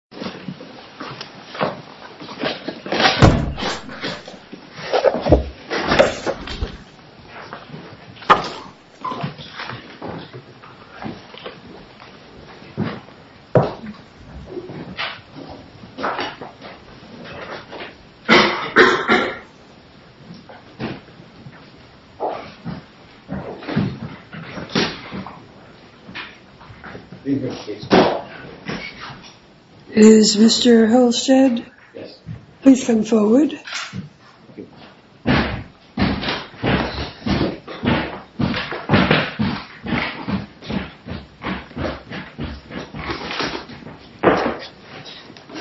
Title Agency, Inc. v. United States is Mr. Holstead. Please come forward.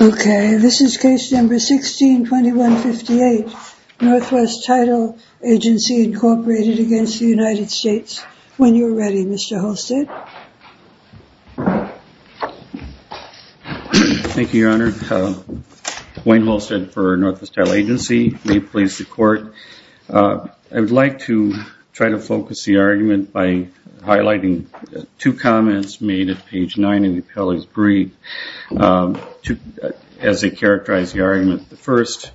Okay, this is case number 162158, Northwest Title Agency, Inc. v. United States. When you're ready, Mr. Holstead. Thank you, Your Honor. Wayne Holstead for Northwest Title Agency. May it please the Court, I would like to try to focus the argument by highlighting two comments made at page 9 in the appellee's brief as they characterize the argument. The first,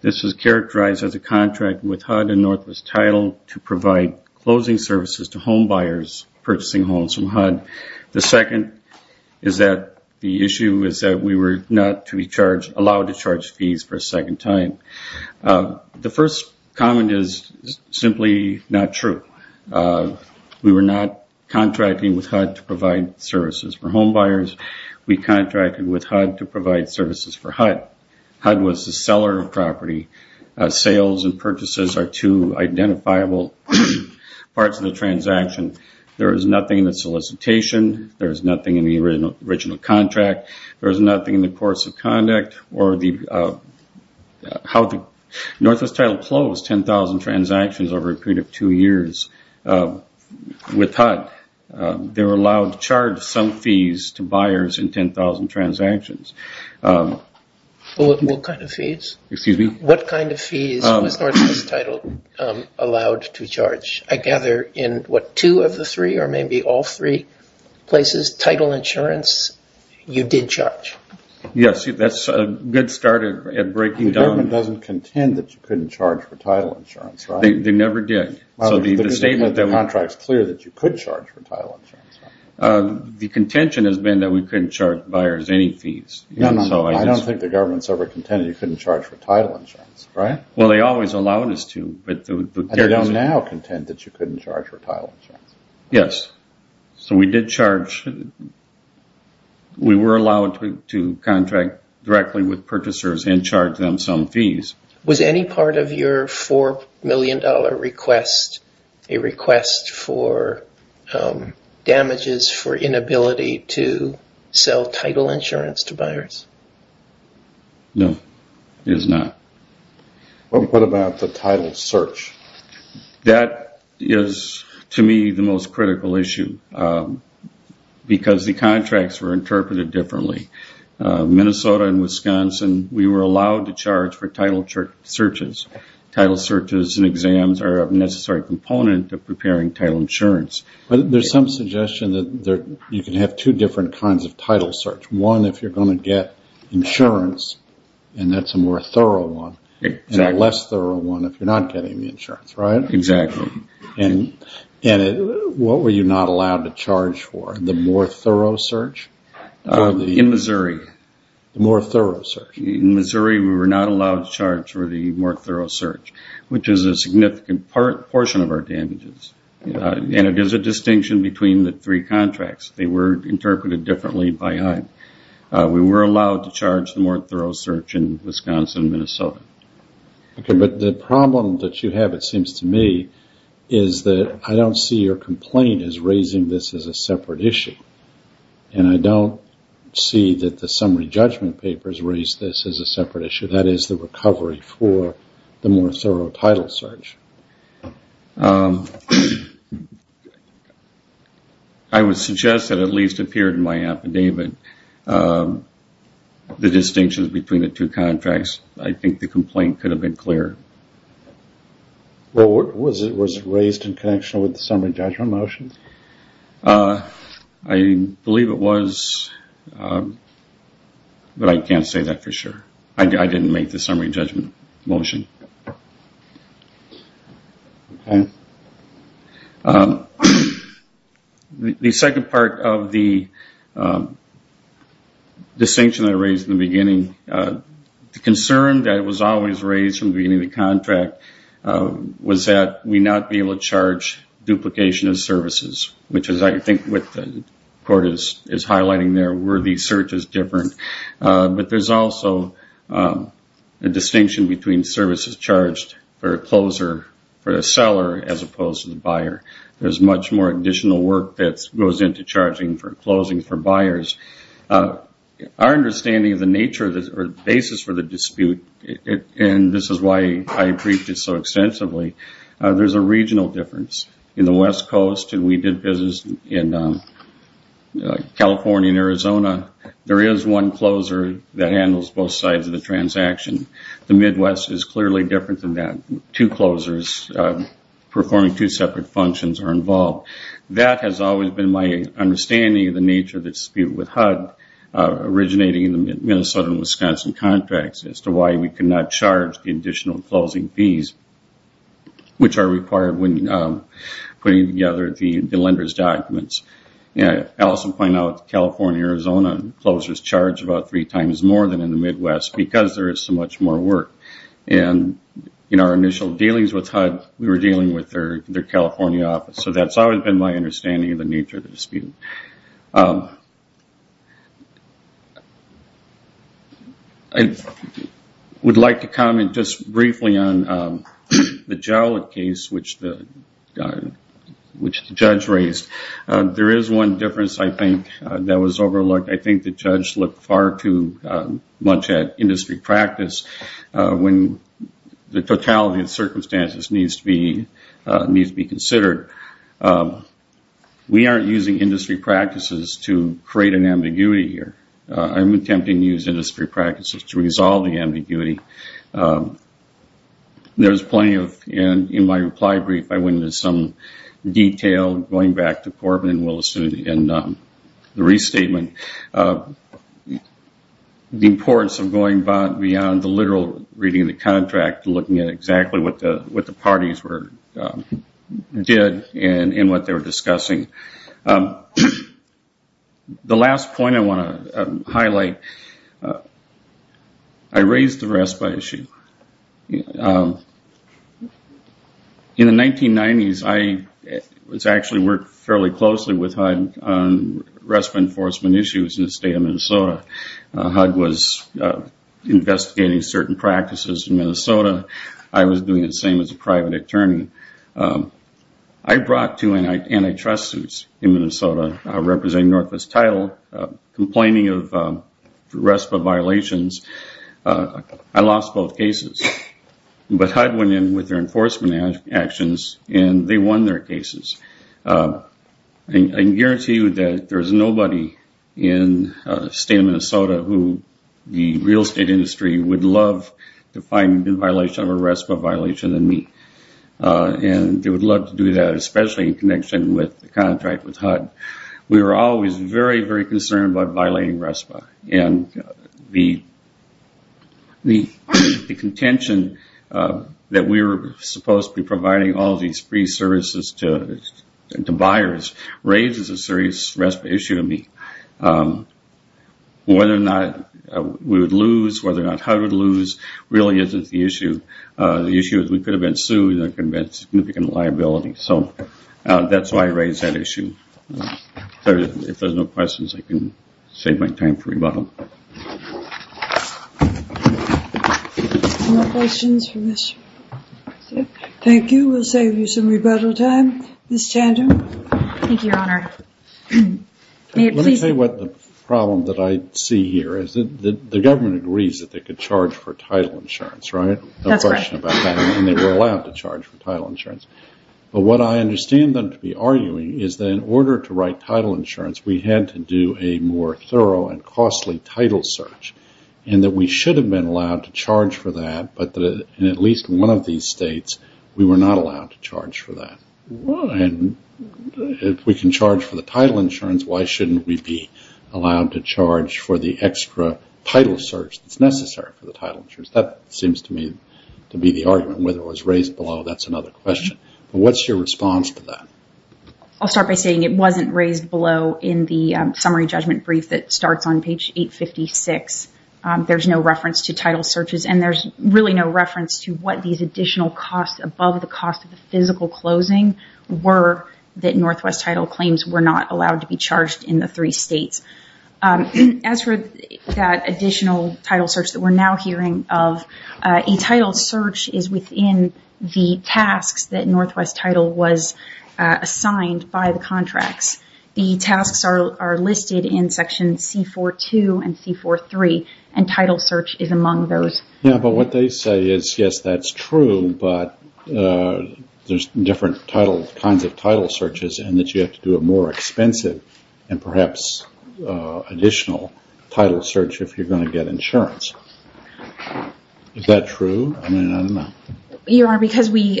this was characterized as a contract with HUD and Northwest Title to provide closing services to home buyers purchasing homes from HUD. The second is that the issue is that we were not to be allowed to charge fees for a second time. The first comment is simply not true. We were not contracting with HUD to provide services for home buyers. We contracted with HUD to provide services for HUD. HUD was the seller of property. Sales and purchases are two identifiable parts of the transaction. There is nothing in the solicitation. There is nothing in the original contract. There is nothing in the course of conduct or how the Northwest Title closed 10,000 transactions over a period of two years with HUD. They were allowed to charge some fees to buyers in 10,000 transactions. What kind of fees was Northwest Title allowed to charge? I gather in what, two of the three or maybe all three places, title insurance, you did charge? Yes, that's a good start at breaking down. The government doesn't contend that you couldn't charge for title insurance, right? They never did. The statement that the contract is clear that you could charge for title insurance. The contention has been that we couldn't charge buyers any fees. I don't think the government has ever contended that you couldn't charge for title insurance, right? Well, they always allowed us to. They don't now contend that you couldn't charge for title insurance? Yes. We were allowed to contract directly with purchasers and charge them some fees. Was any part of your $4 million request a request for damages for inability to sell title insurance to buyers? No, it is not. What about the title search? That is to me the most critical issue because the contracts were interpreted differently. Minnesota and Wisconsin, we were allowed to charge for title searches. Title searches and exams are a necessary component of preparing title insurance. But there is some suggestion that you can have two different kinds of title search. One if you are going to get insurance and that is a more thorough one. Exactly. And a less thorough one if you are not getting the insurance, right? Exactly. And what were you not allowed to charge for? The more thorough search? In Missouri. The more thorough search? In Missouri, we were not allowed to charge for the more thorough search, which is a significant portion of our damages. And it is a distinction between the three contracts. They were interpreted differently by HUD. We were allowed to charge the more thorough search in Wisconsin and Minnesota. Okay, but the problem that you have it seems to me is that I do not see your complaint as raising this as a separate issue. And I do not see that the summary judgment papers raise this as a separate issue. That is the recovery for the more thorough title search. I would suggest that it at least appeared in my affidavit the distinctions between the two contracts. I think the complaint could have been clearer. Was it raised in connection with the summary judgment motion? I believe it was, but I cannot say that for sure. I did not make the summary judgment motion. The second part of the distinction that I raised in the beginning, the concern that was always raised from the beginning of the contract was that we would not be able to charge duplication of services, which is I think what the court is highlighting there where the search is different. But there is also a distinction between services charged for a closer, for a seller as opposed to the buyer. There is much more additional work that goes into charging for closing for buyers. Our understanding of the nature or basis for the dispute, and this is why I briefed it so extensively, there is a regional difference. In the West Coast, and we did business in California and Arizona, there is one closer that handles both sides of the transaction. The Midwest is clearly different than that. Two closers performing two separate functions are involved. That has always been my understanding of the nature of the dispute with HUD, originating in the Minnesota and Wisconsin contracts, as to why we could not charge the additional closing fees, which are required when putting together the lender's documents. Allison pointed out California and Arizona closers charge about three times more than in the Midwest because there is so much more work. And in our initial dealings with HUD, we were dealing with their California office. So that's always been my understanding of the nature of the dispute. I would like to comment just briefly on the Jowlett case, which the judge raised. There is one difference, I think, that was overlooked. I think the judge looked far too much at industry practice when the totality of circumstances needs to be considered. We aren't using industry practices to create an ambiguity here. I'm attempting to use industry practices to resolve the ambiguity. There's plenty of, in my reply brief, I went into some detail, going back to Corbin and Willis in the restatement. The importance of going beyond the literal reading of the contract, looking at exactly what the parties did and what they were discussing. The last point I want to highlight, I raised the RESPA issue. In the 1990s, I actually worked fairly closely with HUD on RESPA enforcement issues. In the state of Minnesota, HUD was investigating certain practices in Minnesota. I was doing the same as a private attorney. I brought two antitrust suits in Minnesota, representing Northwest Title, complaining of RESPA violations. I lost both cases. But HUD went in with their enforcement actions, and they won their cases. I can guarantee you that there's nobody in the state of Minnesota who, the real estate industry, would love to find a violation of a RESPA violation in me. And they would love to do that, especially in connection with the contract with HUD. We were always very, very concerned about violating RESPA. And the contention that we were supposed to be providing all these free services to buyers raises a serious RESPA issue in me. Whether or not we would lose, whether or not HUD would lose, really isn't the issue. The issue is we could have been sued, and there could have been significant liability. So that's why I raised that issue. If there's no questions, I can save my time for rebuttal. Thank you. We'll save you some rebuttal time. Ms. Tandem? Thank you, Your Honor. Let me tell you what the problem that I see here is. The government agrees that they could charge for title insurance, right? That's right. And they were allowed to charge for title insurance. But what I understand them to be arguing is that in order to write title insurance, we had to do a more thorough and costly title search. And that we should have been allowed to charge for that, but in at least one of these states, we were not allowed to charge for that. And if we can charge for the title insurance, why shouldn't we be allowed to charge for the extra title search that's necessary for the title insurance? That seems to me to be the argument. Whether it was raised below, that's another question. What's your response to that? I'll start by saying it wasn't raised below in the summary judgment brief that starts on page 856. There's no reference to title searches, and there's really no reference to what these additional costs above the cost of the physical closing were that Northwest title claims were not allowed to be charged in the three states. As for that additional title search that we're now hearing of, a title search is within the tasks that Northwest title was assigned by the contracts. The tasks are listed in section C-4-2 and C-4-3, and title search is among those. Yeah, but what they say is, yes, that's true, but there's different kinds of title searches, and that you have to do a more expensive and perhaps additional title search if you're going to get insurance. Is that true? I mean, I don't know. Your Honor, because we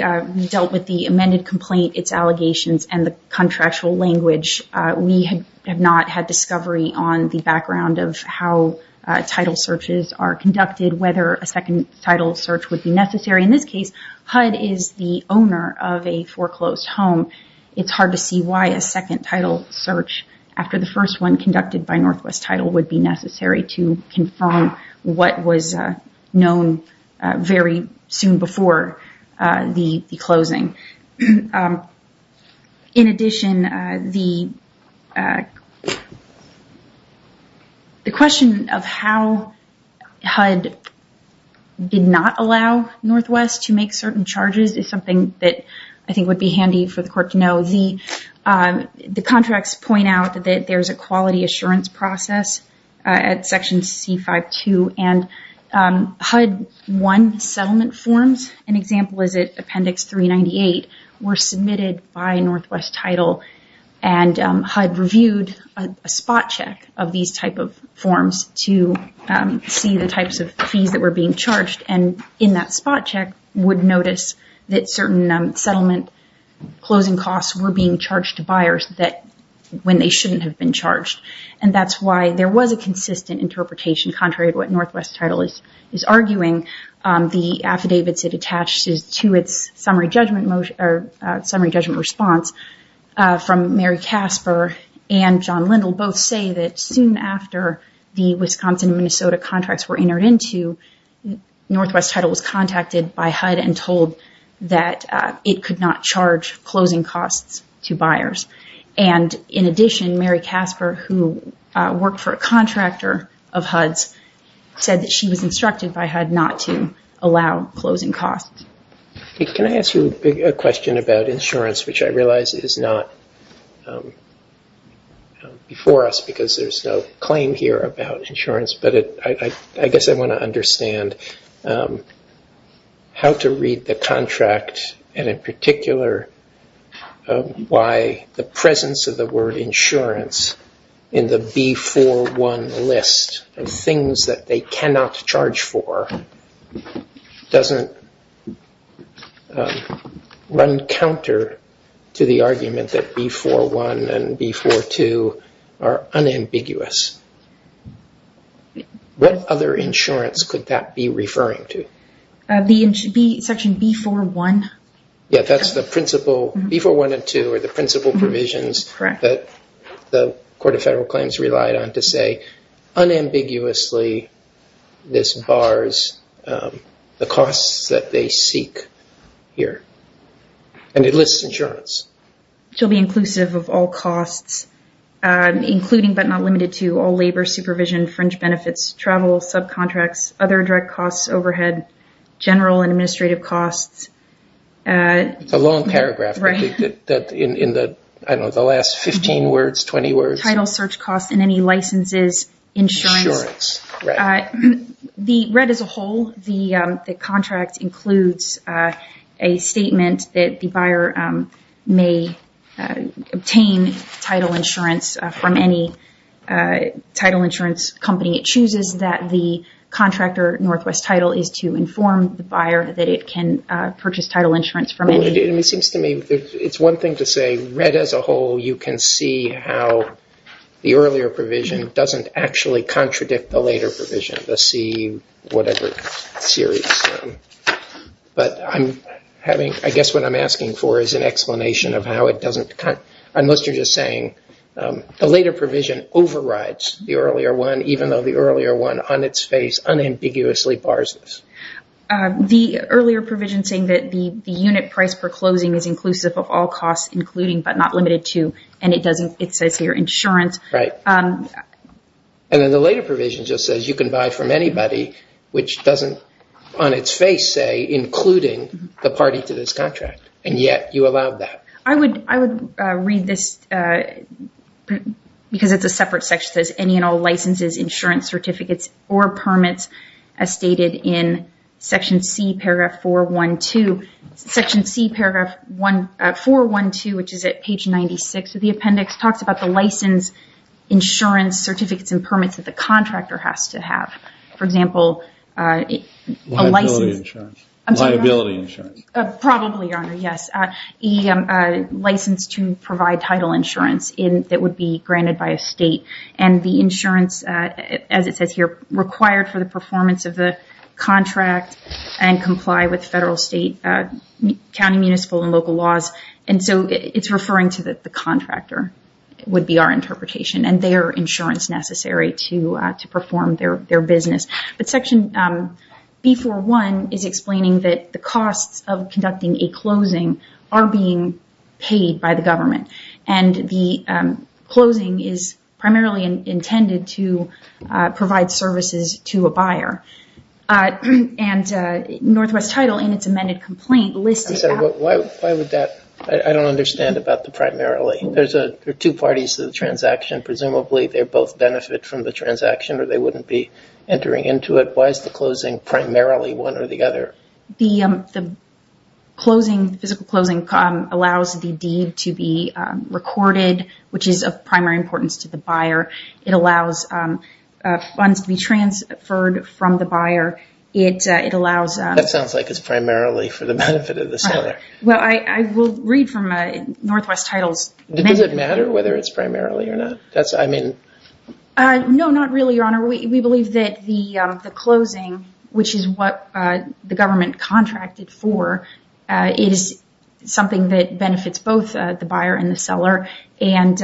dealt with the amended complaint, its allegations, and the contractual language, we have not had discovery on the background of how title searches are conducted, whether a second title search would be necessary. In this case, HUD is the owner of a foreclosed home. It's hard to see why a second title search, after the first one conducted by Northwest title, would be necessary to confirm what was known very soon before the closing. In addition, the question of how HUD did not allow Northwest to make certain charges is something that I think would be handy for the court to know. The contracts point out that there's a quality assurance process at Section C-5-2, and HUD-1 settlement forms, an example is at Appendix 398, were submitted by Northwest title, and HUD reviewed a spot check of these type of forms to see the types of fees that were being charged, and in that spot check would notice that certain settlement closing costs were being charged to buyers when they shouldn't have been charged. And that's why there was a consistent interpretation, contrary to what Northwest title is arguing. The affidavits it attached to its summary judgment response from Mary Casper and John Lindle both say that soon after the Wisconsin and Minnesota contracts were entered into, Northwest title was contacted by HUD and told that it could not charge closing costs to buyers. And in addition, Mary Casper who worked for a contractor of HUD's said that she was instructed by HUD not to allow closing costs. Can I ask you a question about insurance, which I realize is not before us because there's no claim here about insurance, but I guess I want to understand how to read the contract, and in particular why the presence of the word insurance in the B4-1 list of things that they cannot charge for doesn't run counter to the argument that B4-1 and B4-2 are unambiguous. What other insurance could that be referring to? Section B4-1. Yeah, that's the principal B4-1 and B4-2 are the principal provisions that the Court of Federal Claims relied on to say unambiguously this bars the costs that they seek here. And it lists insurance. To be inclusive of all costs, including but not limited to all labor, supervision, fringe benefits, travel, subcontracts, other direct costs, overhead, general and administrative costs. It's a long paragraph. Right. In the last 15 words, 20 words. Title search costs and any licenses, insurance. Insurance, right. The red as a whole, the contract includes a statement that the buyer may obtain title insurance from any title insurance company. It chooses that the contractor Northwest title is to inform the buyer that it can purchase title insurance from any. It seems to me it's one thing to say red as a whole, you can see how the earlier provision doesn't actually contradict the later provision, the C whatever series. But I guess what I'm asking for is an explanation of how it doesn't, unless you're just saying the later provision overrides the earlier one, even though the earlier one on its face unambiguously bars this. The earlier provision saying that the unit price per closing is inclusive of all costs, including but not limited to, and it says here insurance. Right. And then the later provision just says you can buy from anybody, which doesn't on its face say including the party to this contract. And yet you allow that. I would read this because it's a separate section that says any and all licenses, insurance certificates, or permits as stated in section C, paragraph 412, section C, paragraph 412, which is at page 96 of the appendix talks about the license insurance certificates and permits that the contractor has to have. For example, a license. Liability insurance. I'm sorry. Liability insurance. Probably, Your Honor. Yes. A license to provide title insurance that would be granted by a state and the insurance, as it says here, required for the performance of the contract and comply with federal, state, county, municipal, and local laws. And so it's referring to the contractor would be our interpretation and their insurance necessary to perform their business. But section B41 is explaining that the costs of conducting a closing are being paid by the government. And the closing is primarily intended to provide services to a buyer. And Northwest Title in its amended complaint lists it. Why would that? I don't understand about the primarily. There are two parties to the transaction. Presumably they both benefit from the transaction or they wouldn't be entering into it. Why is the closing primarily one or the other? The physical closing allows the deed to be recorded, which is of primary importance to the buyer. It allows funds to be transferred from the buyer. That sounds like it's primarily for the benefit of the seller. Well, I will read from Northwest Title's amendment. Does it matter whether it's primarily or not? No, not really, Your Honor. We believe that the closing, which is what the government contracted for, is something that benefits both the buyer and the seller. And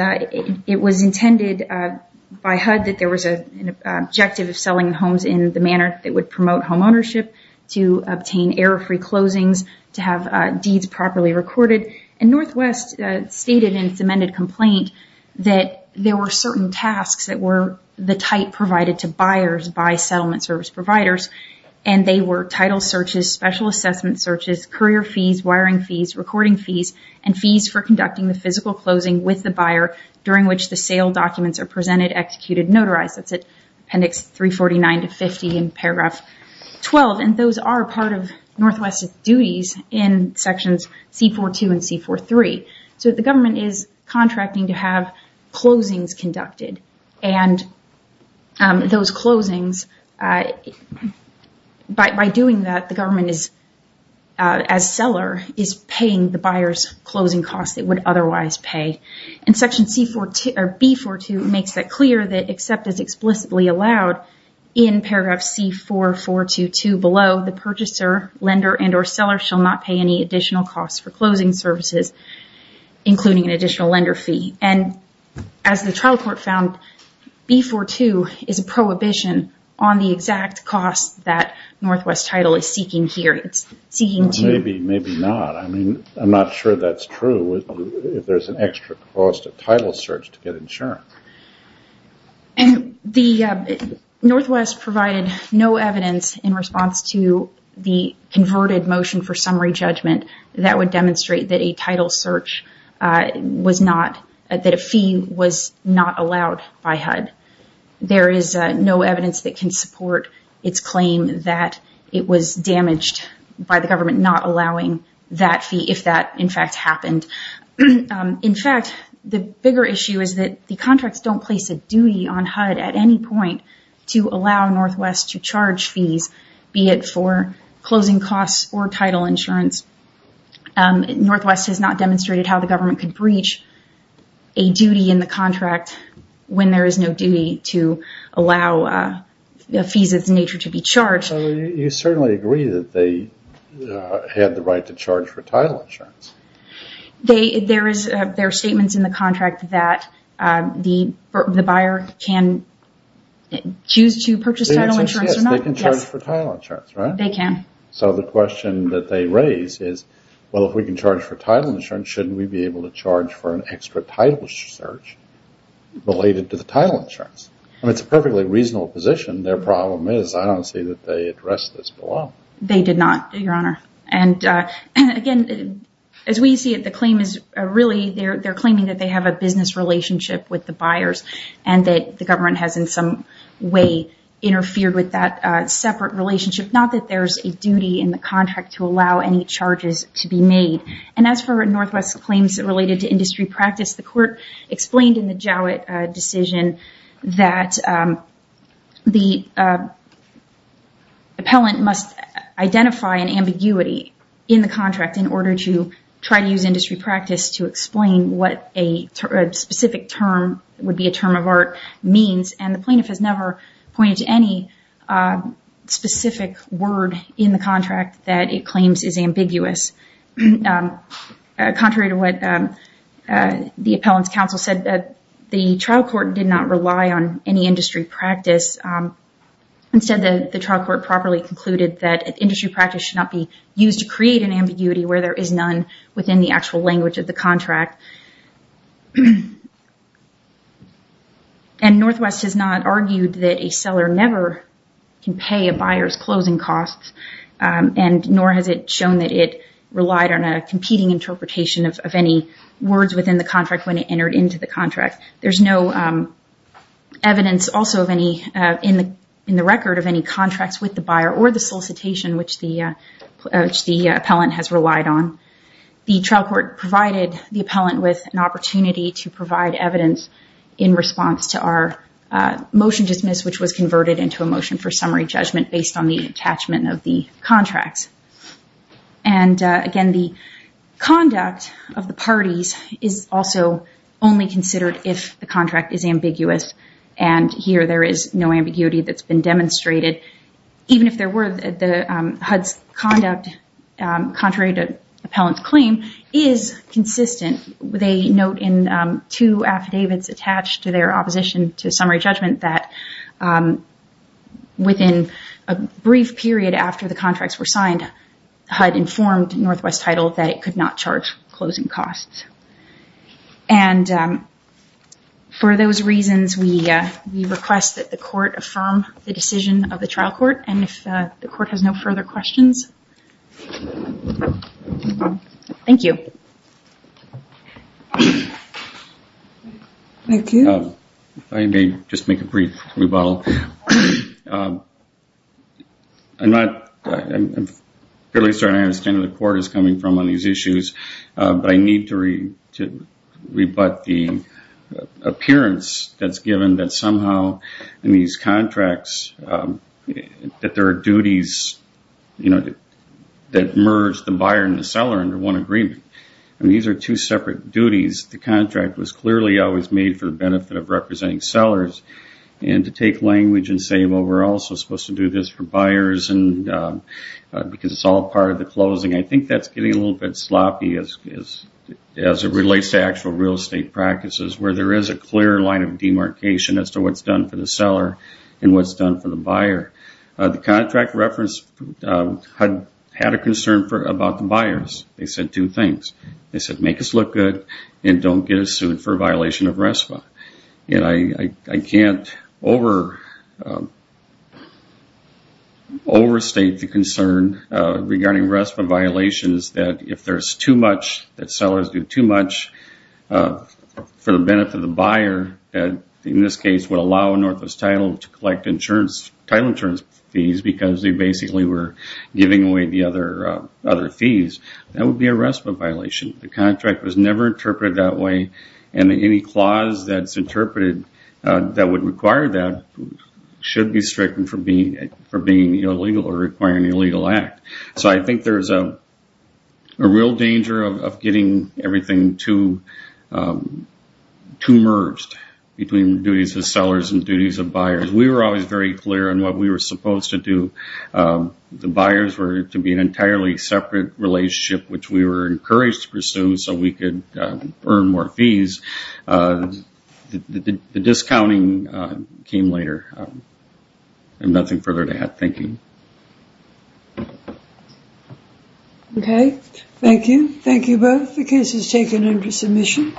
it was intended by HUD that there was an objective of selling homes in the manner that would promote home ownership, to obtain error-free closings, to have deeds properly recorded. And Northwest stated in its amended complaint that there were certain tasks that were the type provided to buyers by settlement service providers. And they were title searches, special assessment searches, career fees, wiring fees, recording fees, and fees for conducting the physical closing with the buyer during which the sale documents are presented, executed, notarized. That's at appendix 349 to 50 in paragraph 12. And those are part of Northwest's duties in sections C-42 and C-43. So the government is contracting to have closings conducted. And those closings, by doing that, the government is, as seller, is paying the buyer's closing costs it would otherwise pay. And section B-42 makes that clear that except as explicitly allowed in paragraph C-4422 below, the purchaser, lender, and or seller shall not pay any additional costs for closing services, including an additional lender fee. And as the trial court found, B-42 is a prohibition on the exact cost that Northwest title is seeking here. It's seeking to – Maybe, maybe not. I mean, I'm not sure that's true if there's an extra cost of title search to get insurance. The Northwest provided no evidence in response to the converted motion for summary judgment that would demonstrate that a title search was not – that a fee was not allowed by HUD. There is no evidence that can support its claim that it was damaged by the government not allowing that fee if that, in fact, happened. In fact, the bigger issue is that the contracts don't place a duty on HUD at any point to allow Northwest to charge fees, be it for closing costs or title insurance. Northwest has not demonstrated how the government can breach a duty in the contract when there is no duty to allow fees of this nature to be charged. You certainly agree that they had the right to charge for title insurance. There are statements in the contract that the buyer can choose to purchase title insurance or not. They can charge for title insurance, right? They can. So the question that they raise is, well, if we can charge for title insurance, shouldn't we be able to charge for an extra title search related to the title insurance? I mean, it's a perfectly reasonable position. Their problem is I don't see that they addressed this below. They did not, Your Honor. Again, as we see it, the claim is really they're claiming that they have a business relationship with the buyers and that the government has in some way interfered with that separate relationship, not that there's a duty in the contract to allow any charges to be made. As for Northwest's claims related to industry practice, the court explained in the Jowett decision that the appellant must identify an ambiguity in the contract in order to try to use industry practice to explain what a specific term, would be a term of art, means. And the plaintiff has never pointed to any specific word in the contract that it claims is ambiguous. Contrary to what the appellant's counsel said, the trial court did not rely on any industry practice. Instead, the trial court properly concluded that industry practice should not be used to create an ambiguity where there is none within the actual language of the contract. And Northwest has not argued that a seller never can pay a buyer's closing costs, and nor has it shown that it relied on a competing interpretation of any words within the contract when it entered into the contract. There's no evidence also in the record of any contracts with the buyer or the solicitation which the appellant has relied on. The trial court provided the appellant with an opportunity to provide evidence in response to our motion dismiss, which was converted into a motion for summary judgment of the contracts. And again, the conduct of the parties is also only considered if the contract is ambiguous, and here there is no ambiguity that's been demonstrated. Even if there were, HUD's conduct, contrary to the appellant's claim, is consistent with a note in two affidavits attached to their opposition to summary judgment that within a brief period after the contracts were signed, HUD informed Northwest Title that it could not charge closing costs. And for those reasons, we request that the court affirm the decision of the trial court, and if the court has no further questions. Thank you. Thank you. If I may just make a brief rebuttal. I'm not, I'm fairly certain I understand where the court is coming from on these issues, but I need to rebut the appearance that's given that somehow in these contracts that there are duties, you know, that merge the buyer and the seller under one agreement, and these are two separate duties. The contract was clearly always made for the benefit of representing sellers, and to take language and say, well, we're also supposed to do this for buyers because it's all part of the closing, I think that's getting a little bit sloppy as it relates to actual real estate practices where there is a clear line of demarcation as to what's done for the seller and what's done for the buyer. The contract reference had a concern about the buyers. They said two things. They said, make us look good and don't get us sued for violation of RESPA. And I can't overstate the concern regarding RESPA violations that if there's too much, that sellers do too much for the benefit of the buyer, that in this case would allow Northwest Title to collect title insurance fees because they basically were giving away the other fees. That would be a RESPA violation. The contract was never interpreted that way, and any clause that's interpreted that would require that should be stricken for being illegal or requiring an illegal act. So I think there's a real danger of getting everything too merged between duties of sellers and duties of buyers. We were always very clear on what we were supposed to do. The buyers were to be an entirely separate relationship, which we were encouraged to pursue so we could earn more fees. The discounting came later. I have nothing further to add. Thank you. Okay. Thank you. Thank you both. The case is taken under submission.